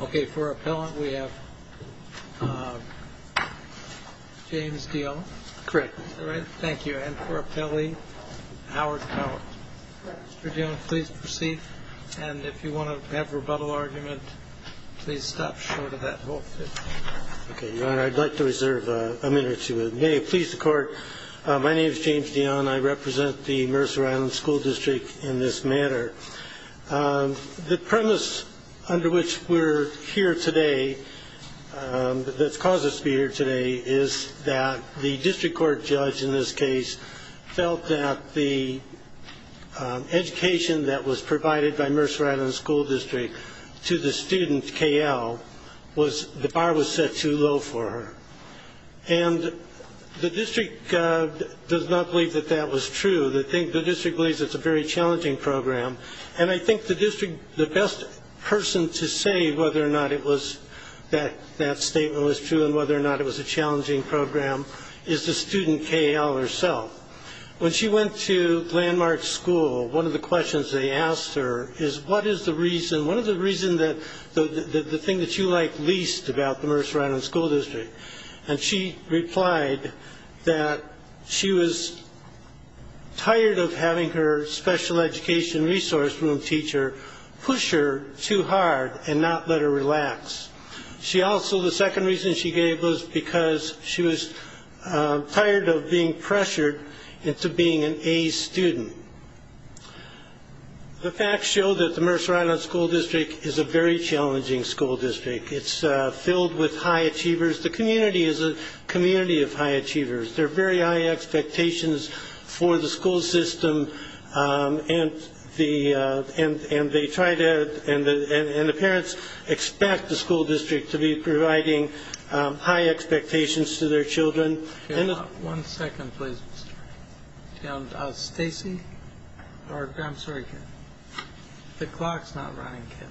OK, for appellant, we have James Dionne. Correct. All right. Thank you. And for appellee, Howard Cowart. Correct. Mr. Dionne, please proceed. And if you want to have rebuttal argument, please stop short of that whole thing. OK, Your Honor, I'd like to reserve a minute or two. May it please the Court, my name is James Dionne. I represent the Mercer Island School District in this matter. The premise under which we're here today that's caused us to be here today is that the district court judge in this case felt that the education that was provided by Mercer Island School District to the student K.L. was, the bar was set too low for her. And the district does not believe that that was true. The district believes it's a very challenging program. And I think the best person to say whether or not it was that that statement was true and whether or not it was a challenging program is the student K.L. herself. When she went to Landmark School, one of the questions they asked her is, what is the reason, what is the reason that the thing that you like least about the Mercer Island School District? And she replied that she was tired of having her special education resource room teacher push her too hard and not let her relax. She also, the second reason she gave was because she was tired of being pressured into being an A student. The facts show that the Mercer Island School District is a very challenging school district. It's filled with high achievers. The community is a community of high achievers. There are very high expectations for the school system. And they try to, and the parents expect the school district to be providing high expectations to their children. One second, please. Stacey, or I'm sorry, Ken. The clock's not running, Ken.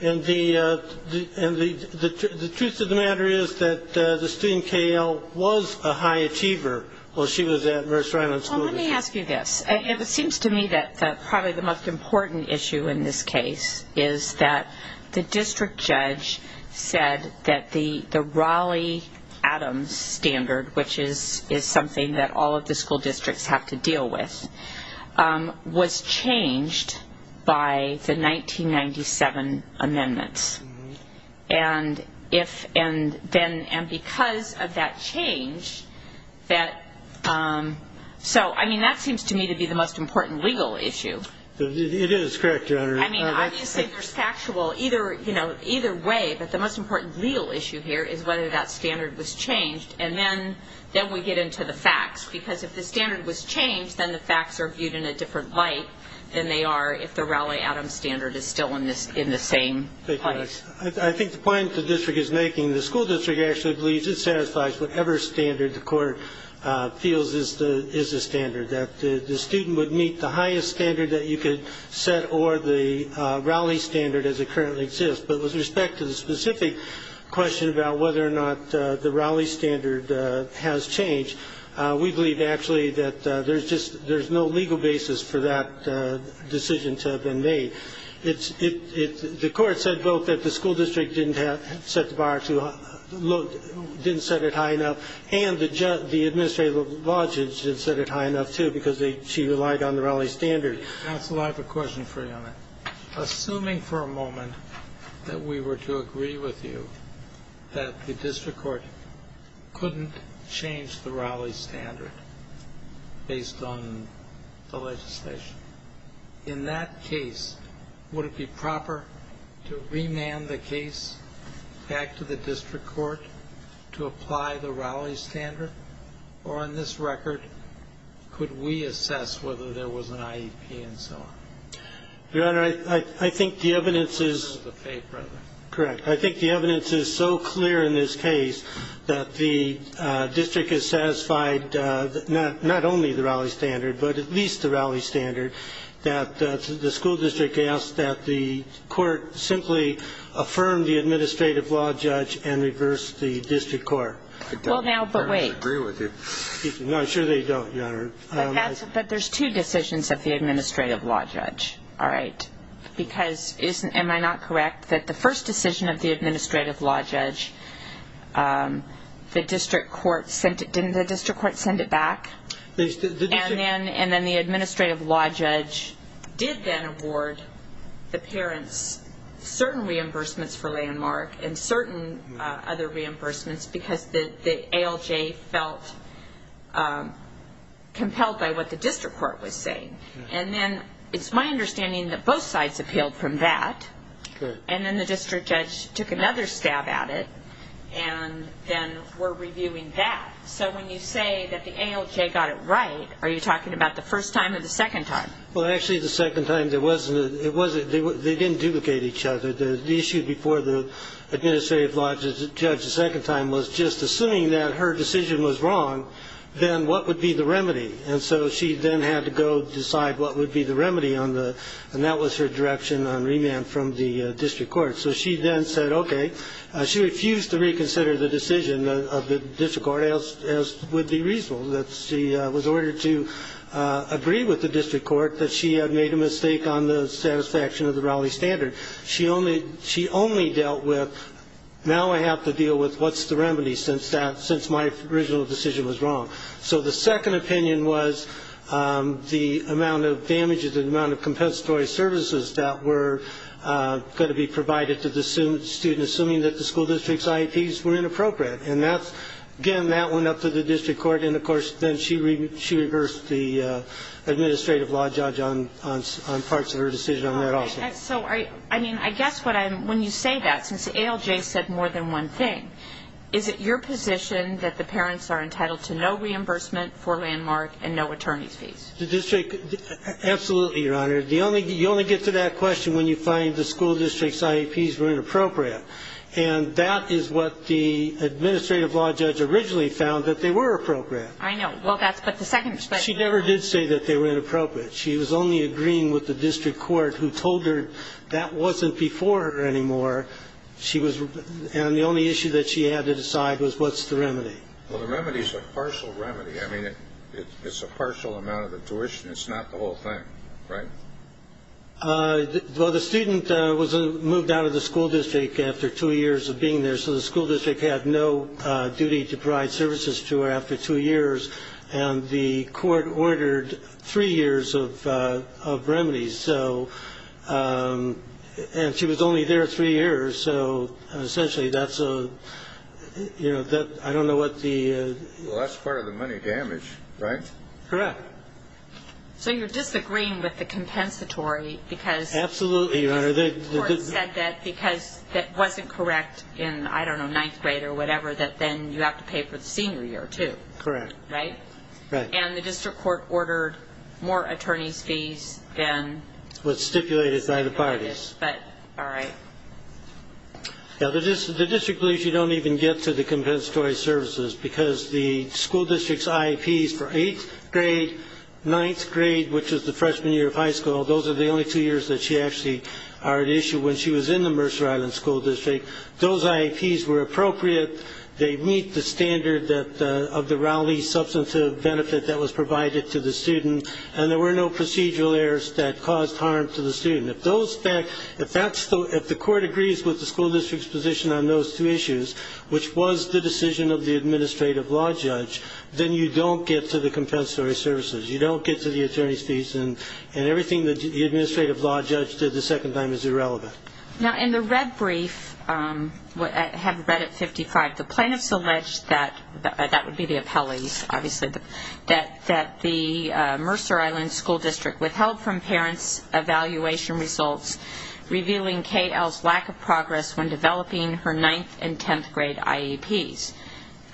And the truth of the matter is that the student, K.L., was a high achiever while she was at Mercer Island School District. Well, let me ask you this. It seems to me that probably the most important issue in this case is that the district judge said that the Raleigh Adams standard, which is something that all of the school districts have to deal with, was changed by the 1997 amendments. And because of that change, that seems to me to be the most important legal issue. It is, correct, Your Honor. I mean, obviously, there's factual either way. But the most important legal issue here is whether that standard was changed. And then we get into the facts. Because if the standard was changed, then the facts are viewed in a different light than they are if the Raleigh Adams standard is still in the same place. I think the point the district is making, the school district actually believes it satisfies whatever standard the court feels is the standard, that the student would meet the highest standard that you could set or the Raleigh standard as it currently exists. But with respect to the specific question about whether or not the Raleigh standard has changed, we believe, actually, that there's no legal basis for that decision to have been made. The court said both that the school district didn't set the bar too low, didn't set it high enough, and the administrative law judge didn't set it high enough, too, because she relied on the Raleigh standard. Counsel, I have a question for you on that. Assuming for a moment that we were to agree with you that the district court couldn't change the Raleigh standard based on the legislation, in that case, would it be proper to remand the case back to the district court to apply the Raleigh standard? Or on this record, could we assess whether there was an IEP and so on? Your Honor, I think the evidence is correct. I think the evidence is so clear in this case that the district has satisfied not only the Raleigh standard, but at least the Raleigh standard, that the school district asked that the court simply affirm the administrative law judge and reverse the district court. Well, now, but wait. I don't entirely agree with you. No, I'm sure they don't, Your Honor. But there's two decisions of the administrative law judge, all right? Because am I not correct that the first decision of the administrative law judge, the district court sent it, didn't the district court send it back? And then the administrative law judge did then award the parents certain reimbursements for Landmark and certain other reimbursements because the ALJ felt compelled by what the district court was saying. And then it's my understanding that both sides appealed from that. And then the district judge took another stab at it and then were reviewing that. So when you say that the ALJ got it right, are you talking about the first time or the second time? Well, actually, the second time, they didn't duplicate each other. The issue before the administrative law judge the second time was just assuming that her decision was wrong, then what would be the remedy? And so she then had to go decide what would be the remedy. And that was her direction on remand from the district court. So she then said, OK. She refused to reconsider the decision of the district court as would be reasonable, that she was ordered to agree with the district court that she had made a mistake on the satisfaction of the Raleigh standard. She only dealt with, now I have to deal with what's the remedy since my original decision was wrong. So the second opinion was the amount of damages, the amount of compensatory services that were going to be provided to the student assuming that the school district's IEPs were inappropriate. And again, that went up to the district court. And of course, then she reversed the administrative law judge on parts of her decision on that also. So I mean, I guess when you say that, is it your position that the parents are entitled to no reimbursement for landmark and no attorney's fees? The district, absolutely, Your Honor. The only, you only get to that question when you find the school district's IEPs were inappropriate. And that is what the administrative law judge originally found, that they were appropriate. I know. Well, that's, but the second. She never did say that they were inappropriate. She was only agreeing with the district court who told her that wasn't before her anymore. She was, and the only issue that she had to decide was what's the remedy. Well, the remedy's a partial remedy. I mean, it's a partial amount of the tuition. It's not the whole thing, right? Well, the student was moved out of the school district after two years of being there. So the school district had no duty to provide services to her after two years. And the court ordered three years of remedies. So, and she was only there three years. So essentially, that's a, you know, I don't know what the. Well, that's part of the money damage, right? Correct. So you're disagreeing with the compensatory because. Absolutely, Your Honor. The court said that because that wasn't correct in, I don't know, ninth grade or whatever, that then you have to pay for the senior year, too. Correct. Right? Right. And the district court ordered more attorney's fees than. What's stipulated by the parties. But, all right. Now, the district police, you don't even get to the compensatory services. Because the school district's IAPs for eighth grade, ninth grade, which is the freshman year of high school, those are the only two years that she actually are at issue when she was in the Mercer Island School District. Those IAPs were appropriate. They meet the standard of the Raleigh substantive benefit that was provided to the student. And there were no procedural errors that caused harm to the student. If the court agrees with the school district's position on those two issues, which was the decision of the administrative law judge, then you don't get to the compensatory services. You don't get to the attorney's fees. And everything that the administrative law judge did the second time is irrelevant. Now, in the red brief, I have read it 55, the plaintiffs alleged that, that would be the appellees, obviously, that the Mercer Island School District withheld from parents evaluation results, revealing KL's lack of progress when developing her ninth and 10th grade IAPs.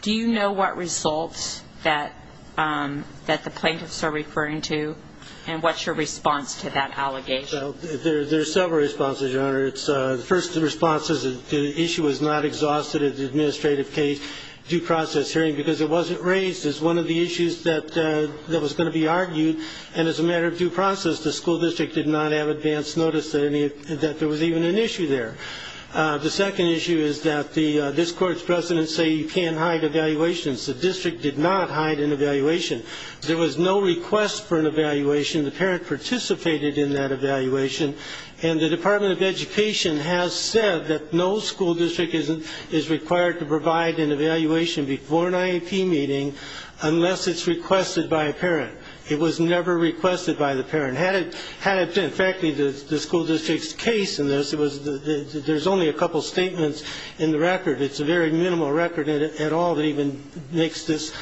Do you know what results that the plaintiffs are referring to? And what's your response to that allegation? There's several responses, Your Honor. First, the response is that the issue was not exhausted at the administrative case due process hearing, because it wasn't raised as one of the issues that was going to be argued. And as a matter of due process, the school district did not have advance notice that there was even an issue there. The second issue is that this court's precedents say you can't hide evaluations. The district did not hide an evaluation. There was no request for an evaluation. The parent participated in that evaluation. And the Department of Education has said that no school district is required to provide an evaluation before an IAP meeting unless it's requested by a parent. It was never requested by the parent. Had it been, in fact, the school district's case in this, there's only a couple statements in the record. It's a very minimal record at all that even makes this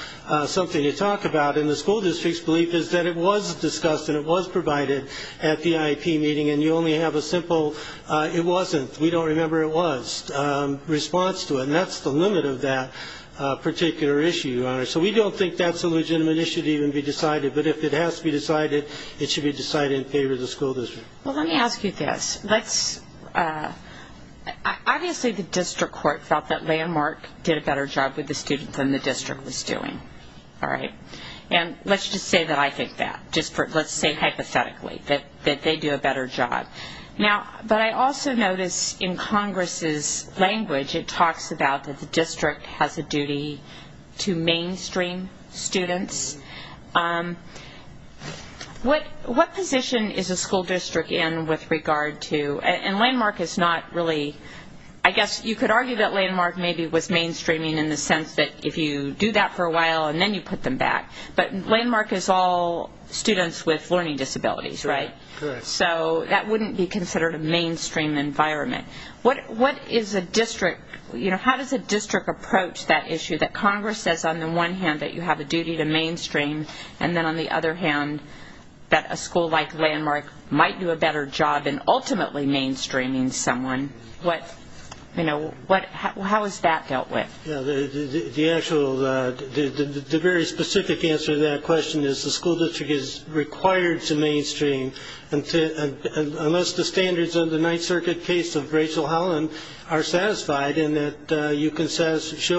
something to talk about. And the school district's belief is that it was discussed and it was provided at the IAP meeting. And you only have a simple, it wasn't, we don't remember it was, response to it. And that's the limit of that particular issue, Your Honor. So we don't think that's a legitimate issue to even be decided. But if it has to be decided, it should be decided in favor of the school district. Well, let me ask you this. Let's, obviously, the district court felt that Landmark did a better job with the students than the district was doing. All right? And let's just say that I think that, just for, let's say hypothetically, that they do a better job. Now, but I also notice in Congress's language, it talks about that the district has a duty to mainstream students. What position is a school district in with regard to, and Landmark is not really, I guess you could argue that Landmark maybe was mainstreaming in the sense that if you do that for a while and then you put them back. But Landmark is all students with learning disabilities, right? So that wouldn't be considered a mainstream environment. What is a district, how does a district approach that issue that Congress says, on the one hand, that you have a duty to mainstream, and then on the other hand, that a school like Landmark might do a better job in ultimately mainstreaming someone? What, you know, how is that dealt with? The actual, the very specific answer to that question is the school district is required to mainstream unless the standards of the Ninth Circuit case of Rachel show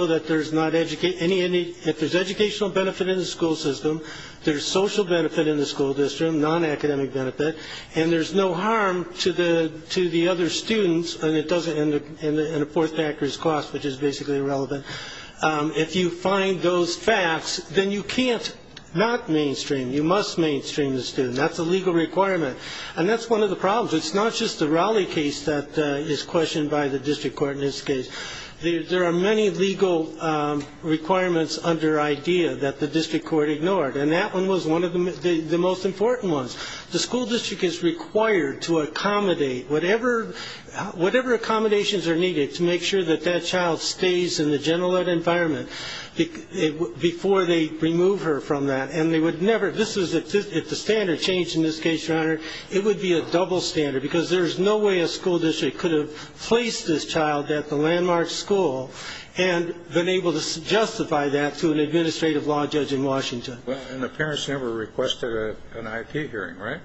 that there's not any, if there's educational benefit in the school system, there's social benefit in the school district, non-academic benefit, and there's no harm to the other students, and a fourth factor is cost, which is basically irrelevant. If you find those facts, then you can't not mainstream. You must mainstream the student. That's a legal requirement. And that's one of the problems. It's not just the Rowley case that is questioned by the district court in this case. There are many legal requirements under IDEA that the district court ignored, and that one was one of the most important ones. The school district is required to accommodate whatever accommodations are needed to make sure that that child stays in the general ed environment before they remove her from that. And they would never, this is, if the standard changed in this case, your honor, it would be a double standard, because there's no way a school district could have placed this child at the landmark school and been able to justify that to an administrative law judge in Washington. And the parents never requested an IP hearing, right?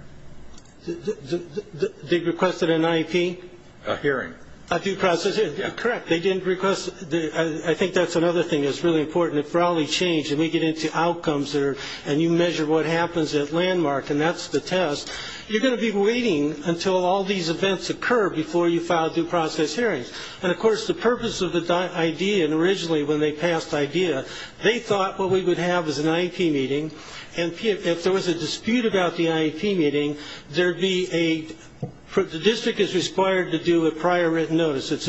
They requested an IP? A hearing. A due process hearing. Correct, they didn't request, I think that's another thing that's really important. If Rowley changed, and we get into outcomes, and you measure what happens at landmark, and that's the test, you're going to be waiting until all these events occur before you file due process hearings. And of course, the purpose of the idea, and originally when they passed the idea, they thought what we would have is an IP meeting, and if there was a dispute about the IP meeting, there'd be a, the district is required to do a prior written notice, as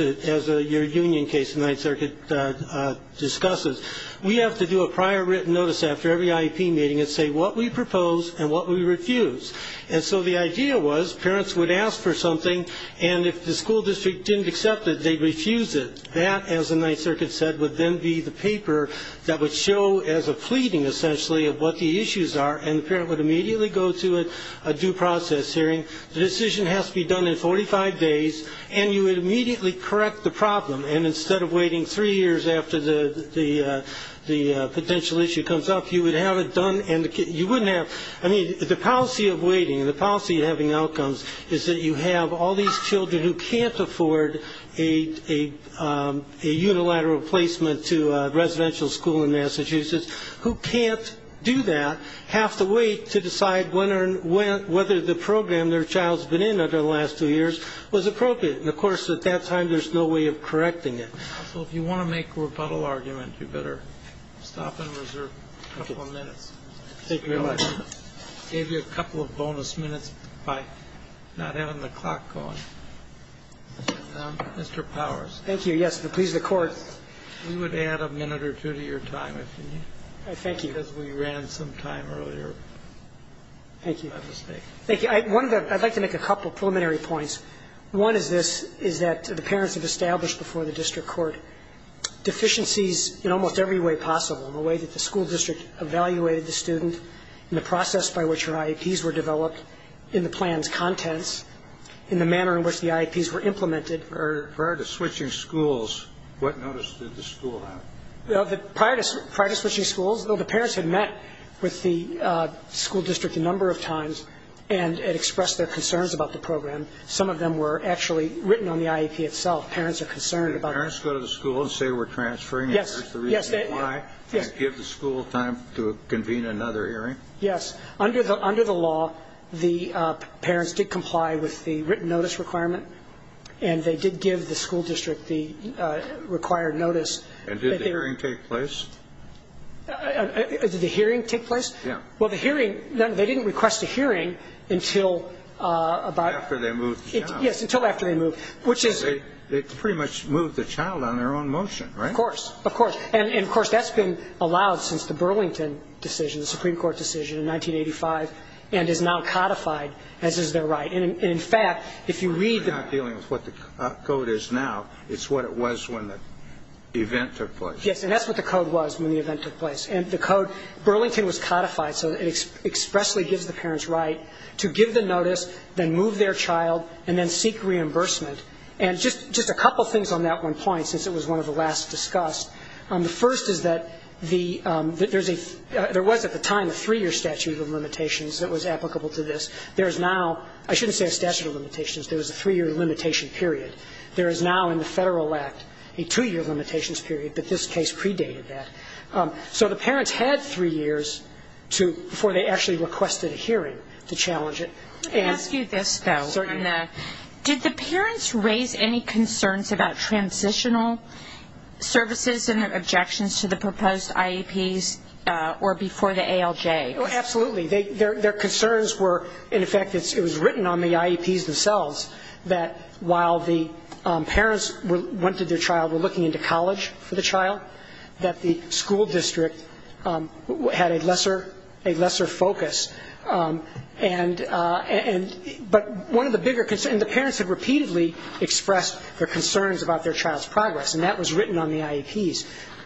your union case in Ninth Circuit discusses. We have to do a prior written notice after every IP meeting and say what we propose and what we refuse. And so the idea was, parents would ask for something, and if the school district didn't accept it, they'd refuse it. That, as the Ninth Circuit said, would then be the paper that would show as a pleading, essentially, of what the issues are, and the parent would immediately go to a due process hearing. The decision has to be done in 45 days, and you would immediately correct the problem, and instead of waiting three years after the potential issue comes up, you would have it done, and you wouldn't have, I mean, the policy of waiting, the policy of having outcomes is that you have all these children who can't afford a unilateral placement to a residential school in Massachusetts, who can't do that, have to wait to decide whether the program their child's been in over the last two years was appropriate. And of course, at that time, there's no way of correcting it. So if you want to make a rebuttal argument, you better stop and reserve a couple of minutes. Take your time. Gave you a couple of bonus minutes by not having the clock going. Mr. Powers. Thank you, yes, it would please the court. We would add a minute or two to your time, if you need. I thank you. Because we ran some time earlier. Thank you. If I'm not mistaken. Thank you, I'd like to make a couple preliminary points. One is this, is that the parents have established before the district court deficiencies in almost every way possible, in the way that the school district evaluated the student, in the process by which her IEPs were developed, in the plan's contents, in the manner in which the IEPs were implemented. Prior to switching schools, what notice did the school have? Prior to switching schools, though the parents had met with the school district a number of times, and had expressed their concerns about the program. Some of them were actually written on the IEP itself. Parents are concerned about that. Do the parents go to the school and say we're transferring? Yes, yes. And that's the reason why? Yes. And give the school time to convene another hearing? Yes. Under the law, the parents did comply with the written notice requirement. And they did give the school district the required notice. And did the hearing take place? Did the hearing take place? Yeah. Well, the hearing, they didn't request a hearing until about. After they moved the child. Yes, until after they moved. Which is. They pretty much moved the child on their own motion, right? Of course, of course. And of course, that's been allowed since the Burlington decision, the Supreme Court decision in 1985, and is now codified as is their right. And in fact, if you read. We're not dealing with what the code is now, it's what it was when the event took place. Yes, and that's what the code was when the event took place. And the code, Burlington was codified so it expressly gives the parents right to give the notice, then move their child, and then seek reimbursement. And just a couple things on that one point, since it was one of the last discussed. The first is that there was at the time a three-year statute of limitations that was applicable to this. There is now, I shouldn't say a statute of limitations, there was a three-year limitation period. There is now in the Federal Act, a two-year limitations period, but this case predated that. So the parents had three years before they actually requested a hearing to challenge it. Let me ask you this though. Certainly. Did the parents raise any concerns about transitional services and their objections to the proposed IEPs or before the ALJ? Absolutely. Their concerns were, in effect, it was written on the IEPs themselves that while the parents wanted their child, were looking into college for the child, that the school district had a lesser focus. But one of the bigger concerns, and the parents had repeatedly expressed their concerns about their child's progress, and that was written on the IEPs.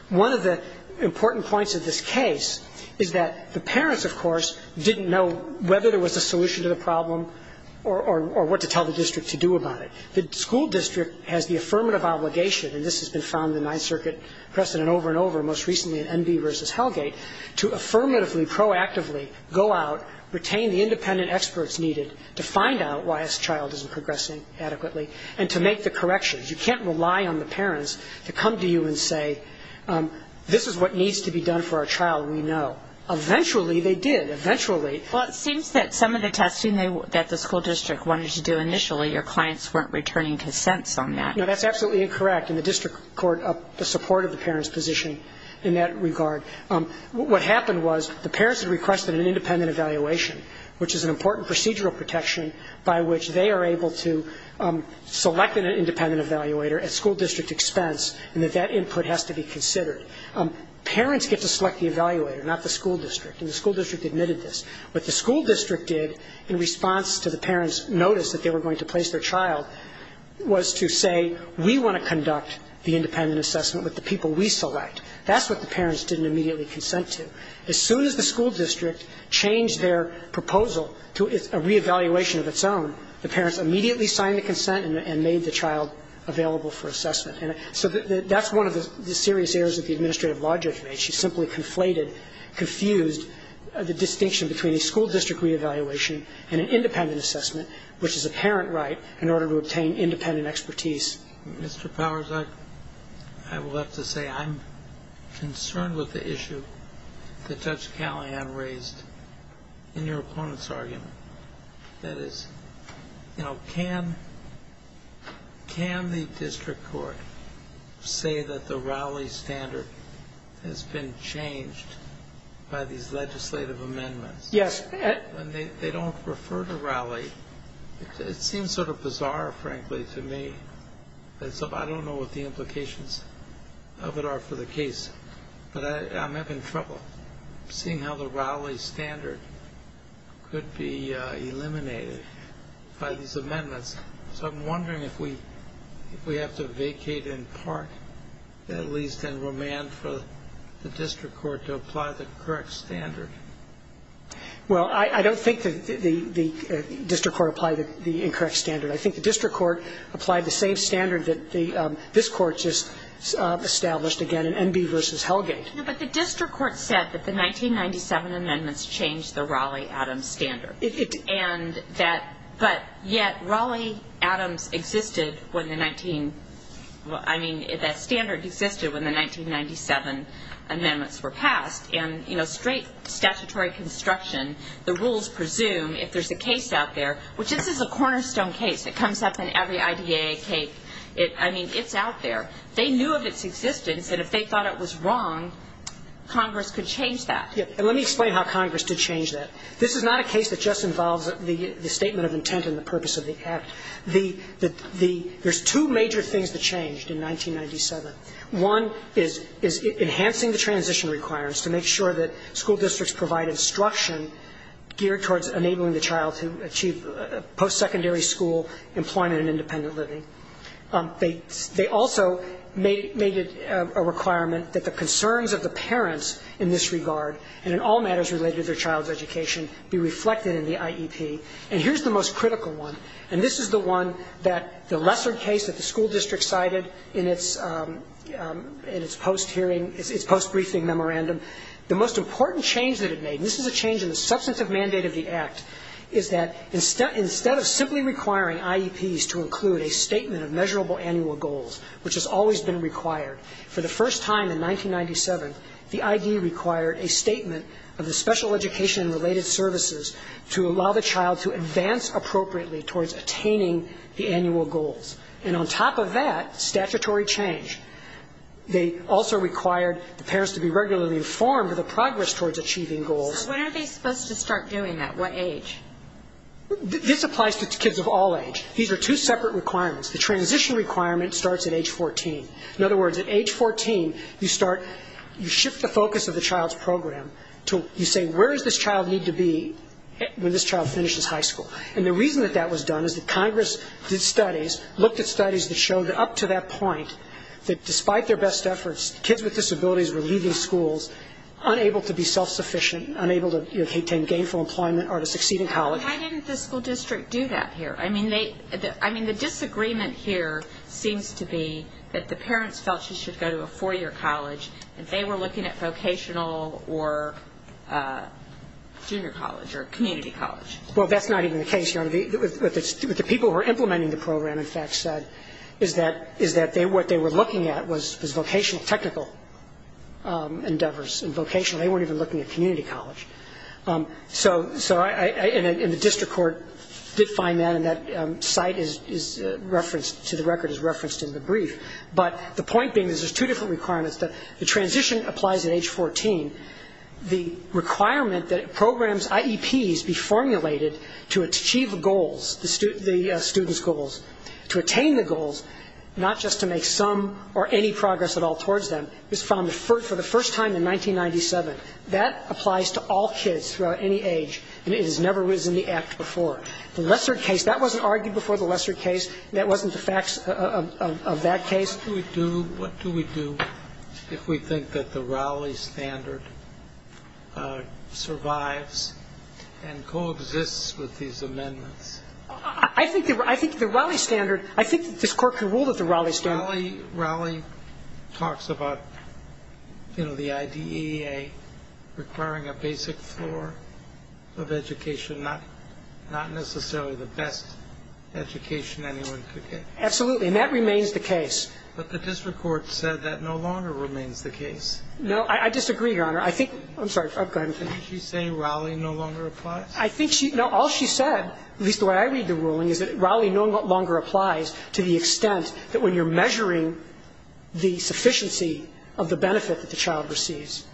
One of the important points of this case is that the parents, of course, didn't know whether there was a solution to the problem or what to tell the district to do about it. The school district has the affirmative obligation, and this has been found in Ninth Circuit precedent over and over, most recently in Enby versus Hellgate, to affirmatively, proactively go out, retain the independent experts needed to find out why a child isn't progressing adequately and to make the corrections. You can't rely on the parents to come to you and say, this is what needs to be done for our child, we know. Eventually, they did, eventually. Well, it seems that some of the testing that the school district wanted to do initially, your clients weren't returning consents on that. No, that's absolutely incorrect, and the district court supported the parents' position in that regard. What happened was the parents had requested an independent evaluation, which is an important procedural protection by which they are able to select an independent evaluator at school district expense, and that that input has to be considered. Parents get to select the evaluator, not the school district, and the school district admitted this. What the school district did in response to the parents' notice that they were going to place their child was to say, we want to conduct the independent assessment with the people we select. That's what the parents didn't immediately consent to. As soon as the school district changed their proposal to a re-evaluation of its own, the parents immediately signed the consent and made the child available for assessment. So that's one of the serious errors that the administrative law judge made. She simply conflated, confused the distinction between a school district re-evaluation and an independent assessment, which is a parent right, in order to obtain independent expertise. Mr. Powers, I will have to say I'm concerned with the issue that Judge Callahan raised in your opponent's argument. That is, you know, can the district court say that the Raleigh standard has been changed by these legislative amendments? When they don't refer to Raleigh, it seems sort of bizarre, frankly, to me. I don't know what the implications of it are for the case, but I'm having trouble seeing how the Raleigh standard could be eliminated by these amendments. So I'm wondering if we have to vacate in part, at least in remand, for the district court to apply the correct standard. Well, I don't think that the district court applied the incorrect standard. I think the district court applied the same standard that this court just established, again, in Enby v. Hellgate. But the district court said that the 1997 amendments changed the Raleigh-Adams standard. But yet, Raleigh-Adams existed when the 19, well, I mean, that standard existed when the 1997 amendments were passed. And, you know, straight statutory construction, the rules presume if there's a case out there, which this is a cornerstone case. It comes up in every IDAA case. I mean, it's out there. They knew of its existence, and if they thought it was wrong, Congress could change that. Yeah, and let me explain how Congress did change that. This is not a case that just involves the statement of intent and the purpose of the act. There's two major things that changed in 1997. One is enhancing the transition requirements to make sure that school districts provide instruction geared towards enabling the child to achieve post-secondary school employment and independent living. They also made it a requirement that the concerns of the parents in this regard, and in all matters related to their child's education, be reflected in the IEP. And here's the most critical one, and this is the one that the lesser case that the school district cited in its post-hearing, its post-briefing memorandum. The most important change that it made, and this is a change in the substantive mandate of the act, is that instead of simply requiring IEPs to include a statement of measurable annual goals, which has always been required, for the first time in 1997, the IED required a statement of the special education-related services to allow the child to advance appropriately towards attaining the annual goals. And on top of that, statutory change. They also required the parents to be regularly informed of the progress towards achieving goals. So when are they supposed to start doing that? What age? This applies to kids of all age. These are two separate requirements. The transition requirement starts at age 14. In other words, at age 14, you start, you shift the focus of the child's program to, you say, where does this child need to be when this child finishes high school? And the reason that that was done is that Congress did studies, looked at studies that showed that up to that point, that despite their best efforts, kids with disabilities were leaving schools unable to be self-sufficient, unable to attain gainful employment or to succeed in college. So why didn't the school district do that here? I mean, the disagreement here seems to be that the parents felt she should go to a four-year college and they were looking at vocational or junior college or community college. Well, that's not even the case, Your Honor. What the people who were implementing the program, in fact, said is that what they were looking at was vocational, technical endeavors. In vocational, they weren't even looking at community college. So I, and the district court did find that and that site is referenced to the record, is referenced in the brief. But the point being is there's two different requirements. The transition applies at age 14. The requirement that programs, IEPs, be formulated to achieve goals, the student's goals, to attain the goals, not just to make some or any progress at all towards them, is found for the first time in 1997. That applies to all kids throughout any age and it has never was in the act before. The Lesser case, that wasn't argued before the Lesser case. That wasn't the facts of that case. What do we do, what do we do if we think that the Raleigh standard survives and coexists with these amendments? I think the Raleigh standard, I think that this court can rule that the Raleigh standard. Raleigh talks about, you know, the IDEA requiring a basic floor of education, not necessarily the best education anyone could get. Absolutely, and that remains the case. But the district court said that no longer remains the case. No, I disagree, Your Honor. I think, I'm sorry, go ahead. Didn't she say Raleigh no longer applies? I think she, no, all she said, at least the way I read the ruling, is that Raleigh no longer applies to the extent that when you're measuring the sufficiency of the benefit that the child receives,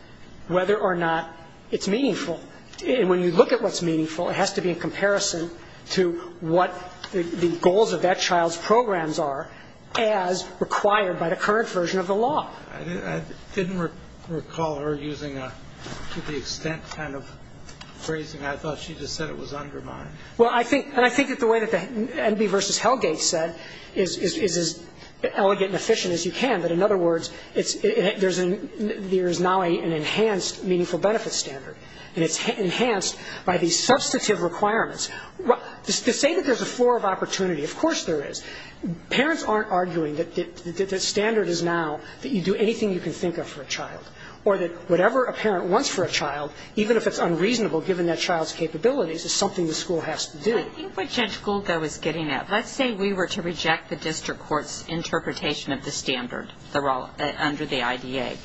whether or not it's meaningful. And when you look at what's meaningful, it has to be in comparison to what the goals of that child's programs are as required by the current version of the law. I didn't recall her using a, to the extent kind of phrasing. I thought she just said it was undermined. Well, I think, and I think that the way that the Enby versus Hellgate said is as elegant and efficient as you can. But in other words, there's now an enhanced meaningful benefit standard. And it's enhanced by these substantive requirements. To say that there's a floor of opportunity, of course there is. Parents aren't arguing that the standard is now that you do anything you can think of for a child. Or that whatever a parent wants for a child, even if it's unreasonable given that child's capabilities, is something the school has to do. I think what Judge Gould, though, is getting at, let's say we were to reject the district court's interpretation of the standard under the IDA.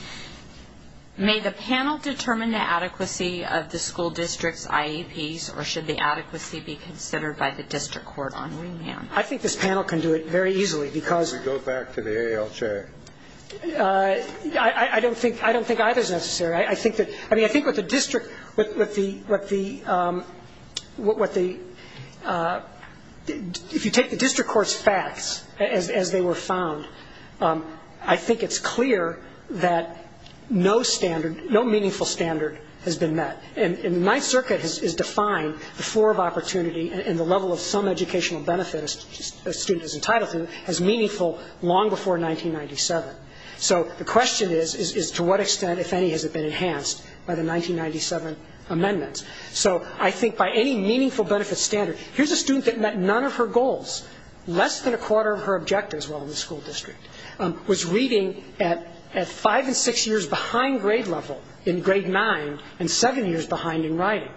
May the panel determine the adequacy of the school district's IEPs, or should the adequacy be considered by the district court on remand? I think this panel can do it very easily because. We go back to the AALJ. I don't think either is necessary. I think that, I mean, I think what the district, what the, if you take the district court's facts as they were found, I think it's clear that no standard, no meaningful standard has been met. And Ninth Circuit has defined the floor of opportunity and the level of some educational benefit a student is entitled to as meaningful long before 1997. So the question is, is to what extent, if any, has it been enhanced by the 1997 amendments? So I think by any meaningful benefit standard, here's a student that met none of her goals, less than a quarter of her objectives while in the school district, was reading at five and six years behind grade level in grade nine and seven years behind in writing.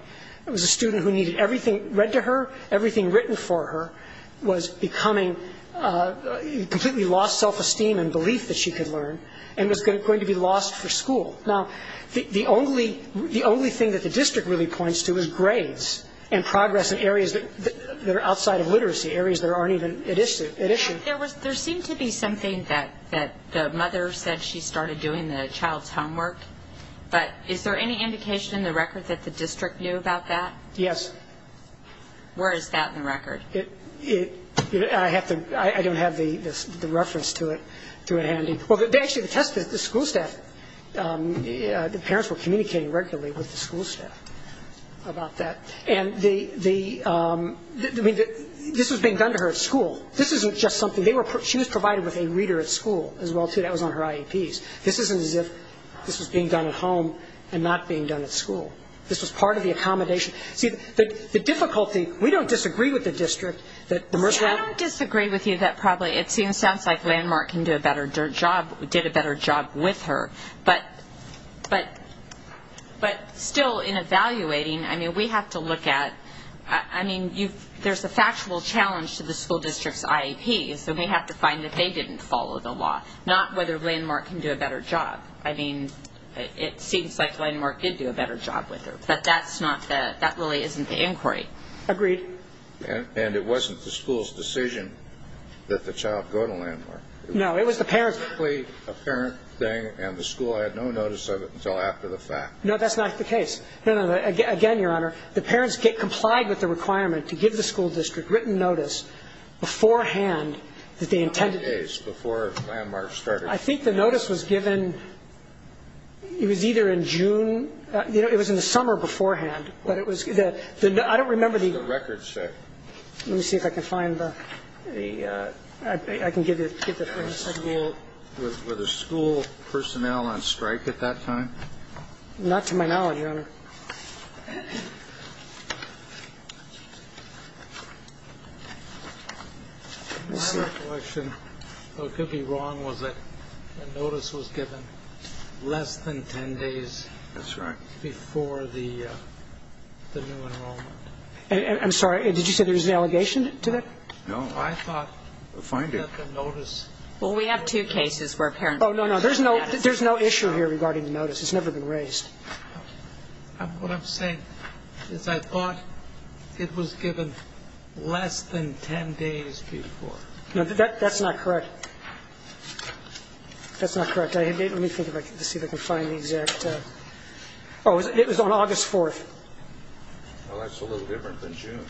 It was a student who needed everything read to her, everything written for her, was becoming, completely lost self-esteem and belief that she could learn, and was going to be lost for school. Now, the only thing that the district really points to is grades and progress in areas that are outside of literacy, areas that aren't even at issue. There seemed to be something that the mother said she started doing, the child's homework, but is there any indication in the record that the district knew about that? Yes. Where is that in the record? I have to, I don't have the reference to it handy. Well, they actually tested the school staff. The parents were communicating regularly with the school staff about that. And the, I mean, this was being done to her at school. This isn't just something, she was provided with a reader at school as well, too. That was on her IEPs. This isn't as if this was being done at home and not being done at school. This was part of the accommodation. See, the difficulty, we don't disagree with the district that the Mercy- I don't disagree with you that probably, it seems, sounds like Landmark can do a better job, did a better job with her. But still, in evaluating, I mean, we have to look at, I mean, there's a factual challenge to the school district's IEPs, and we have to find that they didn't follow the law, not whether Landmark can do a better job. I mean, it seems like Landmark did do a better job with her, but that's not the, that really isn't the inquiry. Agreed. And it wasn't the school's decision that the child go to Landmark. No, it was the parents- It was a parent thing, and the school had no notice of it until after the fact. No, that's not the case. No, no, again, Your Honor, the parents get complied with the requirement to give the school district written notice beforehand that they intended- Not the case, before Landmark started. I think the notice was given, it was either in June, you know, it was in the summer beforehand, but it was, I don't remember the- What does the record say? Let me see if I can find the, I can give you the- Were the school personnel on strike at that time? Not to my knowledge, Your Honor. Let's see. My recollection, though it could be wrong, was that the notice was given less than 10 days- That's right. Before the new enrollment. I'm sorry, did you say there was an allegation to that? No, I thought that the notice- Well, we have two cases where parents- Oh, no, no, there's no issue here regarding the notice. It's never been raised. What I'm saying is I thought it was given less than 10 days before. No, that's not correct. That's not correct. Let me think if I can see if I can find the exact, oh, it was on August 4th. Well, that's a little different than June.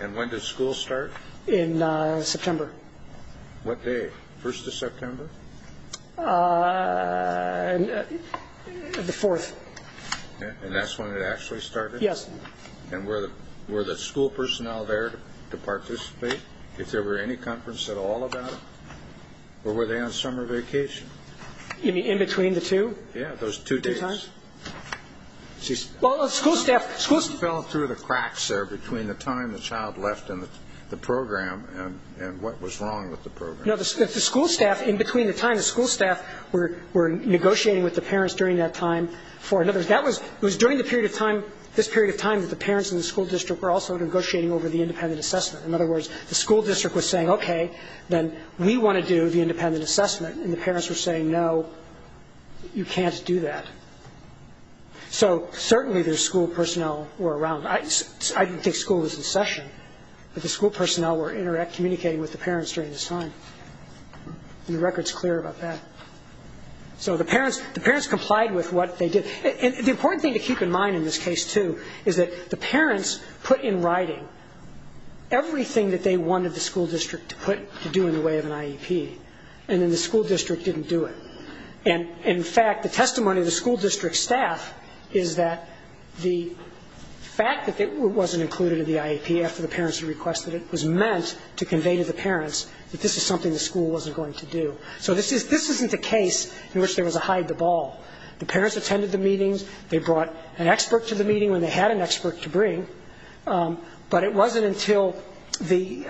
And when did school start? In September. What day? 1st of September? The 4th. And that's when it actually started? Yes. And were the school personnel there to participate? If there were any conference at all about it? Or were they on summer vacation? You mean in between the two? Yeah, those two days. Well, the school staff- You fell through the cracks there between the time the child left and the program and what was wrong with the program. No, the school staff, in between the time the school staff were negotiating with the parents during that time for- In other words, it was during this period of time that the parents in the school district were also negotiating over the independent assessment. In other words, the school district was saying, okay, then we want to do the independent assessment. And the parents were saying, no, you can't do that. So certainly the school personnel were around. I didn't think school was in session, but the school personnel were communicating with the parents during this time. And the record's clear about that. So the parents complied with what they did. And the important thing to keep in mind in this case, too, is that the parents put in writing everything that they wanted the school district to do in the way of an IEP. And then the school district didn't do it. And in fact, the testimony of the school district staff is that the fact that it wasn't included in the IEP after the parents had requested it was meant to convey to the parents that this is something the school wasn't going to do. So this isn't the case in which there was a hide the ball. The parents attended the meetings. They brought an expert to the meeting when they had an expert to bring. But it wasn't until the-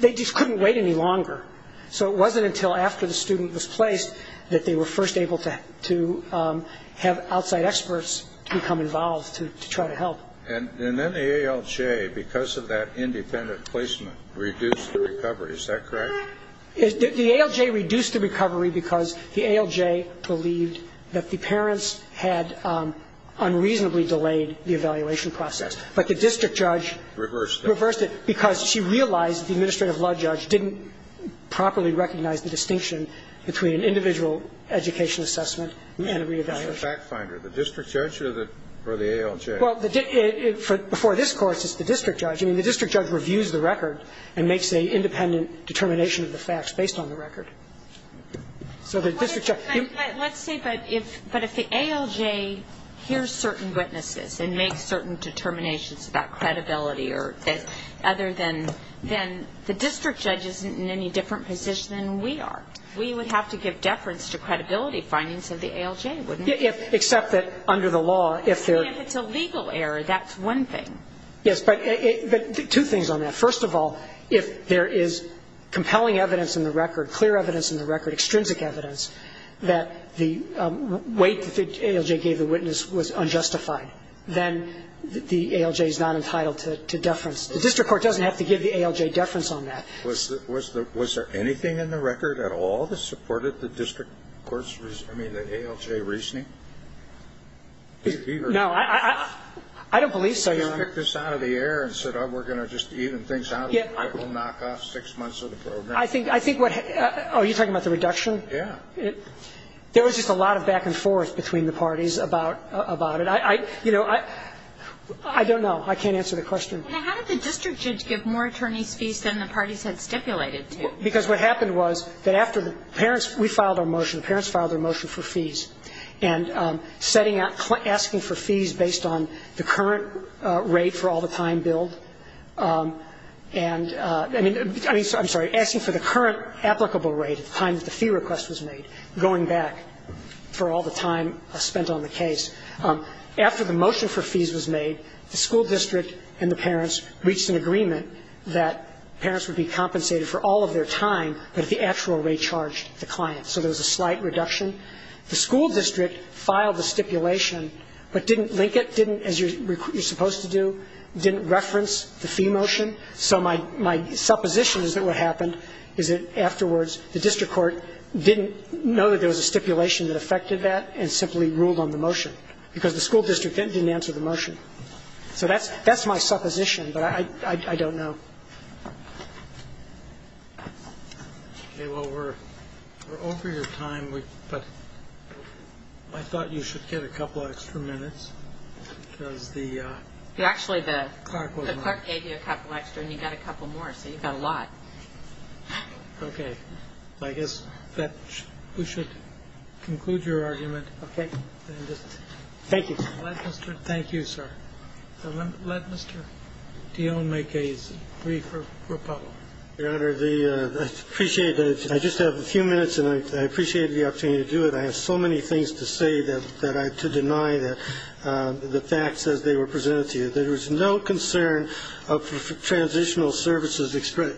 They just couldn't wait any longer. So it wasn't until after the student was placed that they were first able to have outside experts to become involved to try to help. And then the ALJ, because of that independent placement, reduced the recovery. Is that correct? The ALJ reduced the recovery because the ALJ believed that the parents had unreasonably delayed the evaluation process. But the district judge- Reversed it. She reversed it because she realized the administrative law judge didn't properly recognize the distinction between an individual education assessment and a re-evaluation. It's a fact finder. The district judge or the ALJ? Well, before this Court, it's the district judge. I mean, the district judge reviews the record and makes an independent determination of the facts based on the record. So the district judge- Let's say, but if the ALJ hears certain witnesses and makes certain determinations about credibility or other than- Then the district judge isn't in any different position than we are. We would have to give deference to credibility findings of the ALJ, wouldn't we? Except that under the law, if there- If it's a legal error, that's one thing. Yes, but two things on that. First of all, if there is compelling evidence in the record, clear evidence in the record, extrinsic evidence, that the weight that the ALJ gave the witness was unjustified, then the ALJ is not entitled to deference. The district court doesn't have to give the ALJ deference on that. Was there anything in the record at all that supported the district court's- I mean, the ALJ reasoning? No, I don't believe so, Your Honor. They just kicked this out of the air and said, oh, we're going to just even things out and it will knock off six months of the program. I think what- Oh, you're talking about the reduction? Yeah. There was just a lot of back and forth between the parties about it. You know, I don't know. I can't answer the question. How did the district judge give more attorneys fees than the parties had stipulated to? Because what happened was that after the parents- We filed our motion. The parents filed their motion for fees. And asking for fees based on the current rate for all the time billed and- I mean, I'm sorry. Asking for the current applicable rate at the time that the fee request was made, going back for all the time spent on the case. After the motion for fees was made, the school district and the parents reached an agreement that parents would be compensated for all of their time, but if the actual rate charged the client. So there was a slight reduction. The school district filed the stipulation, but didn't link it, didn't, as you're supposed to do, didn't reference the fee motion. So my supposition is that what happened is that afterwards the district court didn't know that there was a stipulation that affected that and simply ruled on the motion because the school district didn't answer the motion. So that's my supposition, but I don't know. Okay. Well, we're over your time, but I thought you should get a couple extra minutes because the- Actually, the clerk gave you a couple extra and you got a couple more, so you got a lot. Okay. I guess we should conclude your argument. Okay. Thank you. Thank you, sir. Let Mr. Dionne make a brief rebuttal. Your Honor, I appreciate it. I just have a few minutes and I appreciate the opportunity to do it. I have so many things to say to deny the facts as they were presented to you. There was no concern of transitional services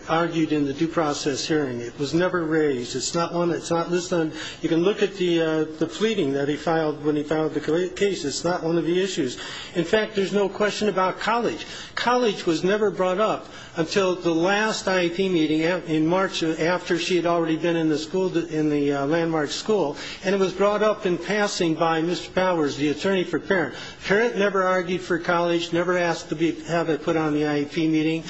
argued in the due process hearing. It was never raised. You can look at the pleading that he filed when he filed the case. It's not one of the issues. In fact, there's no question about college. College was never brought up until the last IEP meeting in March after she had already been in the landmark school. And it was brought up in passing by Mr. Powers, the attorney for parents. Parents never argued for college, never asked to have it put on the IEP meeting.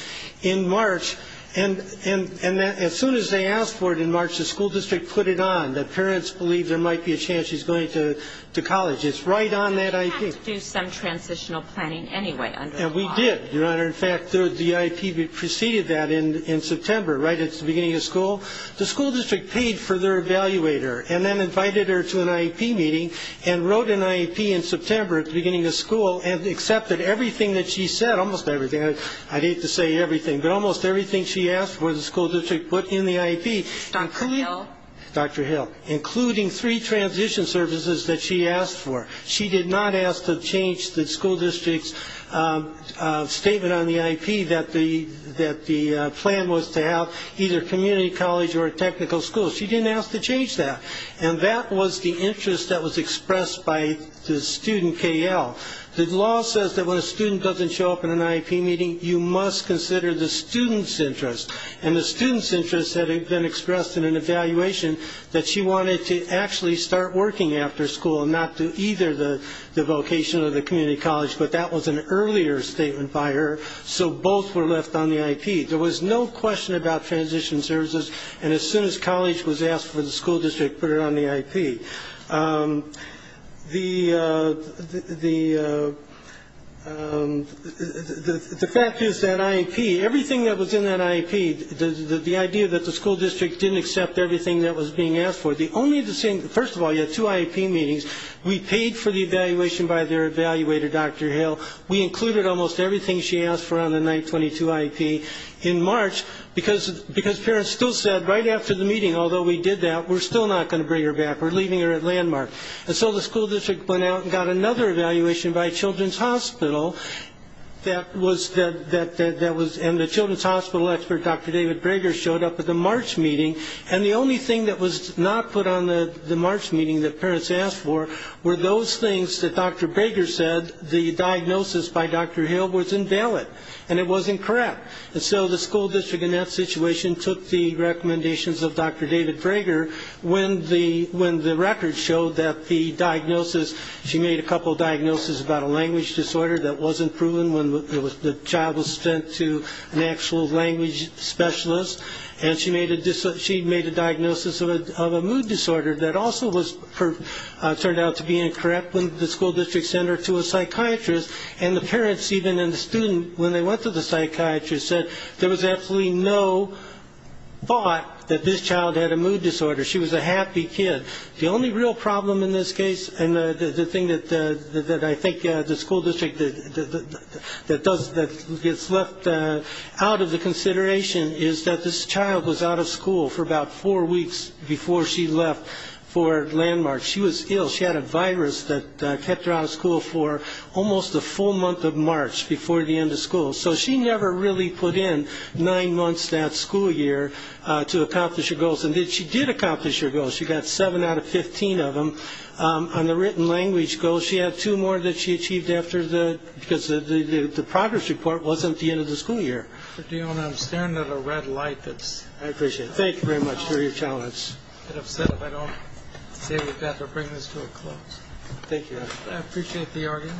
In March, and as soon as they asked for it in March, the school district put it on, that parents believe there might be a chance she's going to college. It's right on that IEP. But they had to do some transitional planning anyway under the law. And we did, Your Honor. In fact, the IEP preceded that in September, right at the beginning of school. The school district paid for their evaluator and then invited her to an IEP meeting and wrote an IEP in September at the beginning of school and accepted everything that she said, almost everything. I'd hate to say everything, but almost everything she asked for, the school district put in the IEP. Dr. Hill. Dr. Hill, including three transition services that she asked for. She did not ask to change the school district's statement on the IEP that the plan was to have either community college or a technical school. She didn't ask to change that. And that was the interest that was expressed by the student KL. The law says that when a student doesn't show up in an IEP meeting, you must consider the student's interest. And the student's interest had been expressed in an evaluation that she wanted to actually start working after school and not do either the vocation or the community college. But that was an earlier statement by her, so both were left on the IEP. There was no question about transition services, and as soon as college was asked for the school district put it on the IEP. The fact is that IEP, everything that was in that IEP, the idea that the school district didn't accept everything that was being asked for, the only thing, first of all, you had two IEP meetings. We paid for the evaluation by their evaluator, Dr. Hill. We included almost everything she asked for on the 922 IEP. In March, because parents still said right after the meeting, although we did that, we're still not going to bring her back. We're leaving her at Landmark. And so the school district went out and got another evaluation by Children's Hospital. And the Children's Hospital expert, Dr. David Brager, showed up at the March meeting, and the only thing that was not put on the March meeting that parents asked for were those things that Dr. Brager said the diagnosis by Dr. Hill was invalid, and it was incorrect. And so the school district in that situation took the recommendations of Dr. David Brager when the record showed that the diagnosis, she made a couple of diagnoses about a language disorder that wasn't proven when the child was sent to an actual language specialist, and she made a diagnosis of a mood disorder that also turned out to be incorrect when the school district sent her to a psychiatrist, and the parents even and the student, when they went to the psychiatrist, said there was absolutely no thought that this child had a mood disorder. She was a happy kid. The only real problem in this case, and the thing that I think the school district that gets left out of the consideration is that this child was out of school for about four weeks before she left for Landmark. She was ill. She had a virus that kept her out of school for almost the full month of March before the end of school. So she never really put in nine months that school year to accomplish her goals, and she did accomplish her goals. She got seven out of 15 of them on the written language goals. She had two more that she achieved because the progress report wasn't at the end of the school year. I'm staring at a red light. I appreciate it. Thank you very much for your challenge. I'd be a bit upset if I don't say we've got to bring this to a close. Thank you. I appreciate the argument.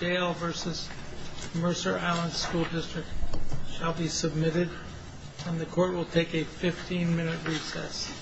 Jail v. Mercer Island School District shall be submitted, and the court will take a 15-minute recess.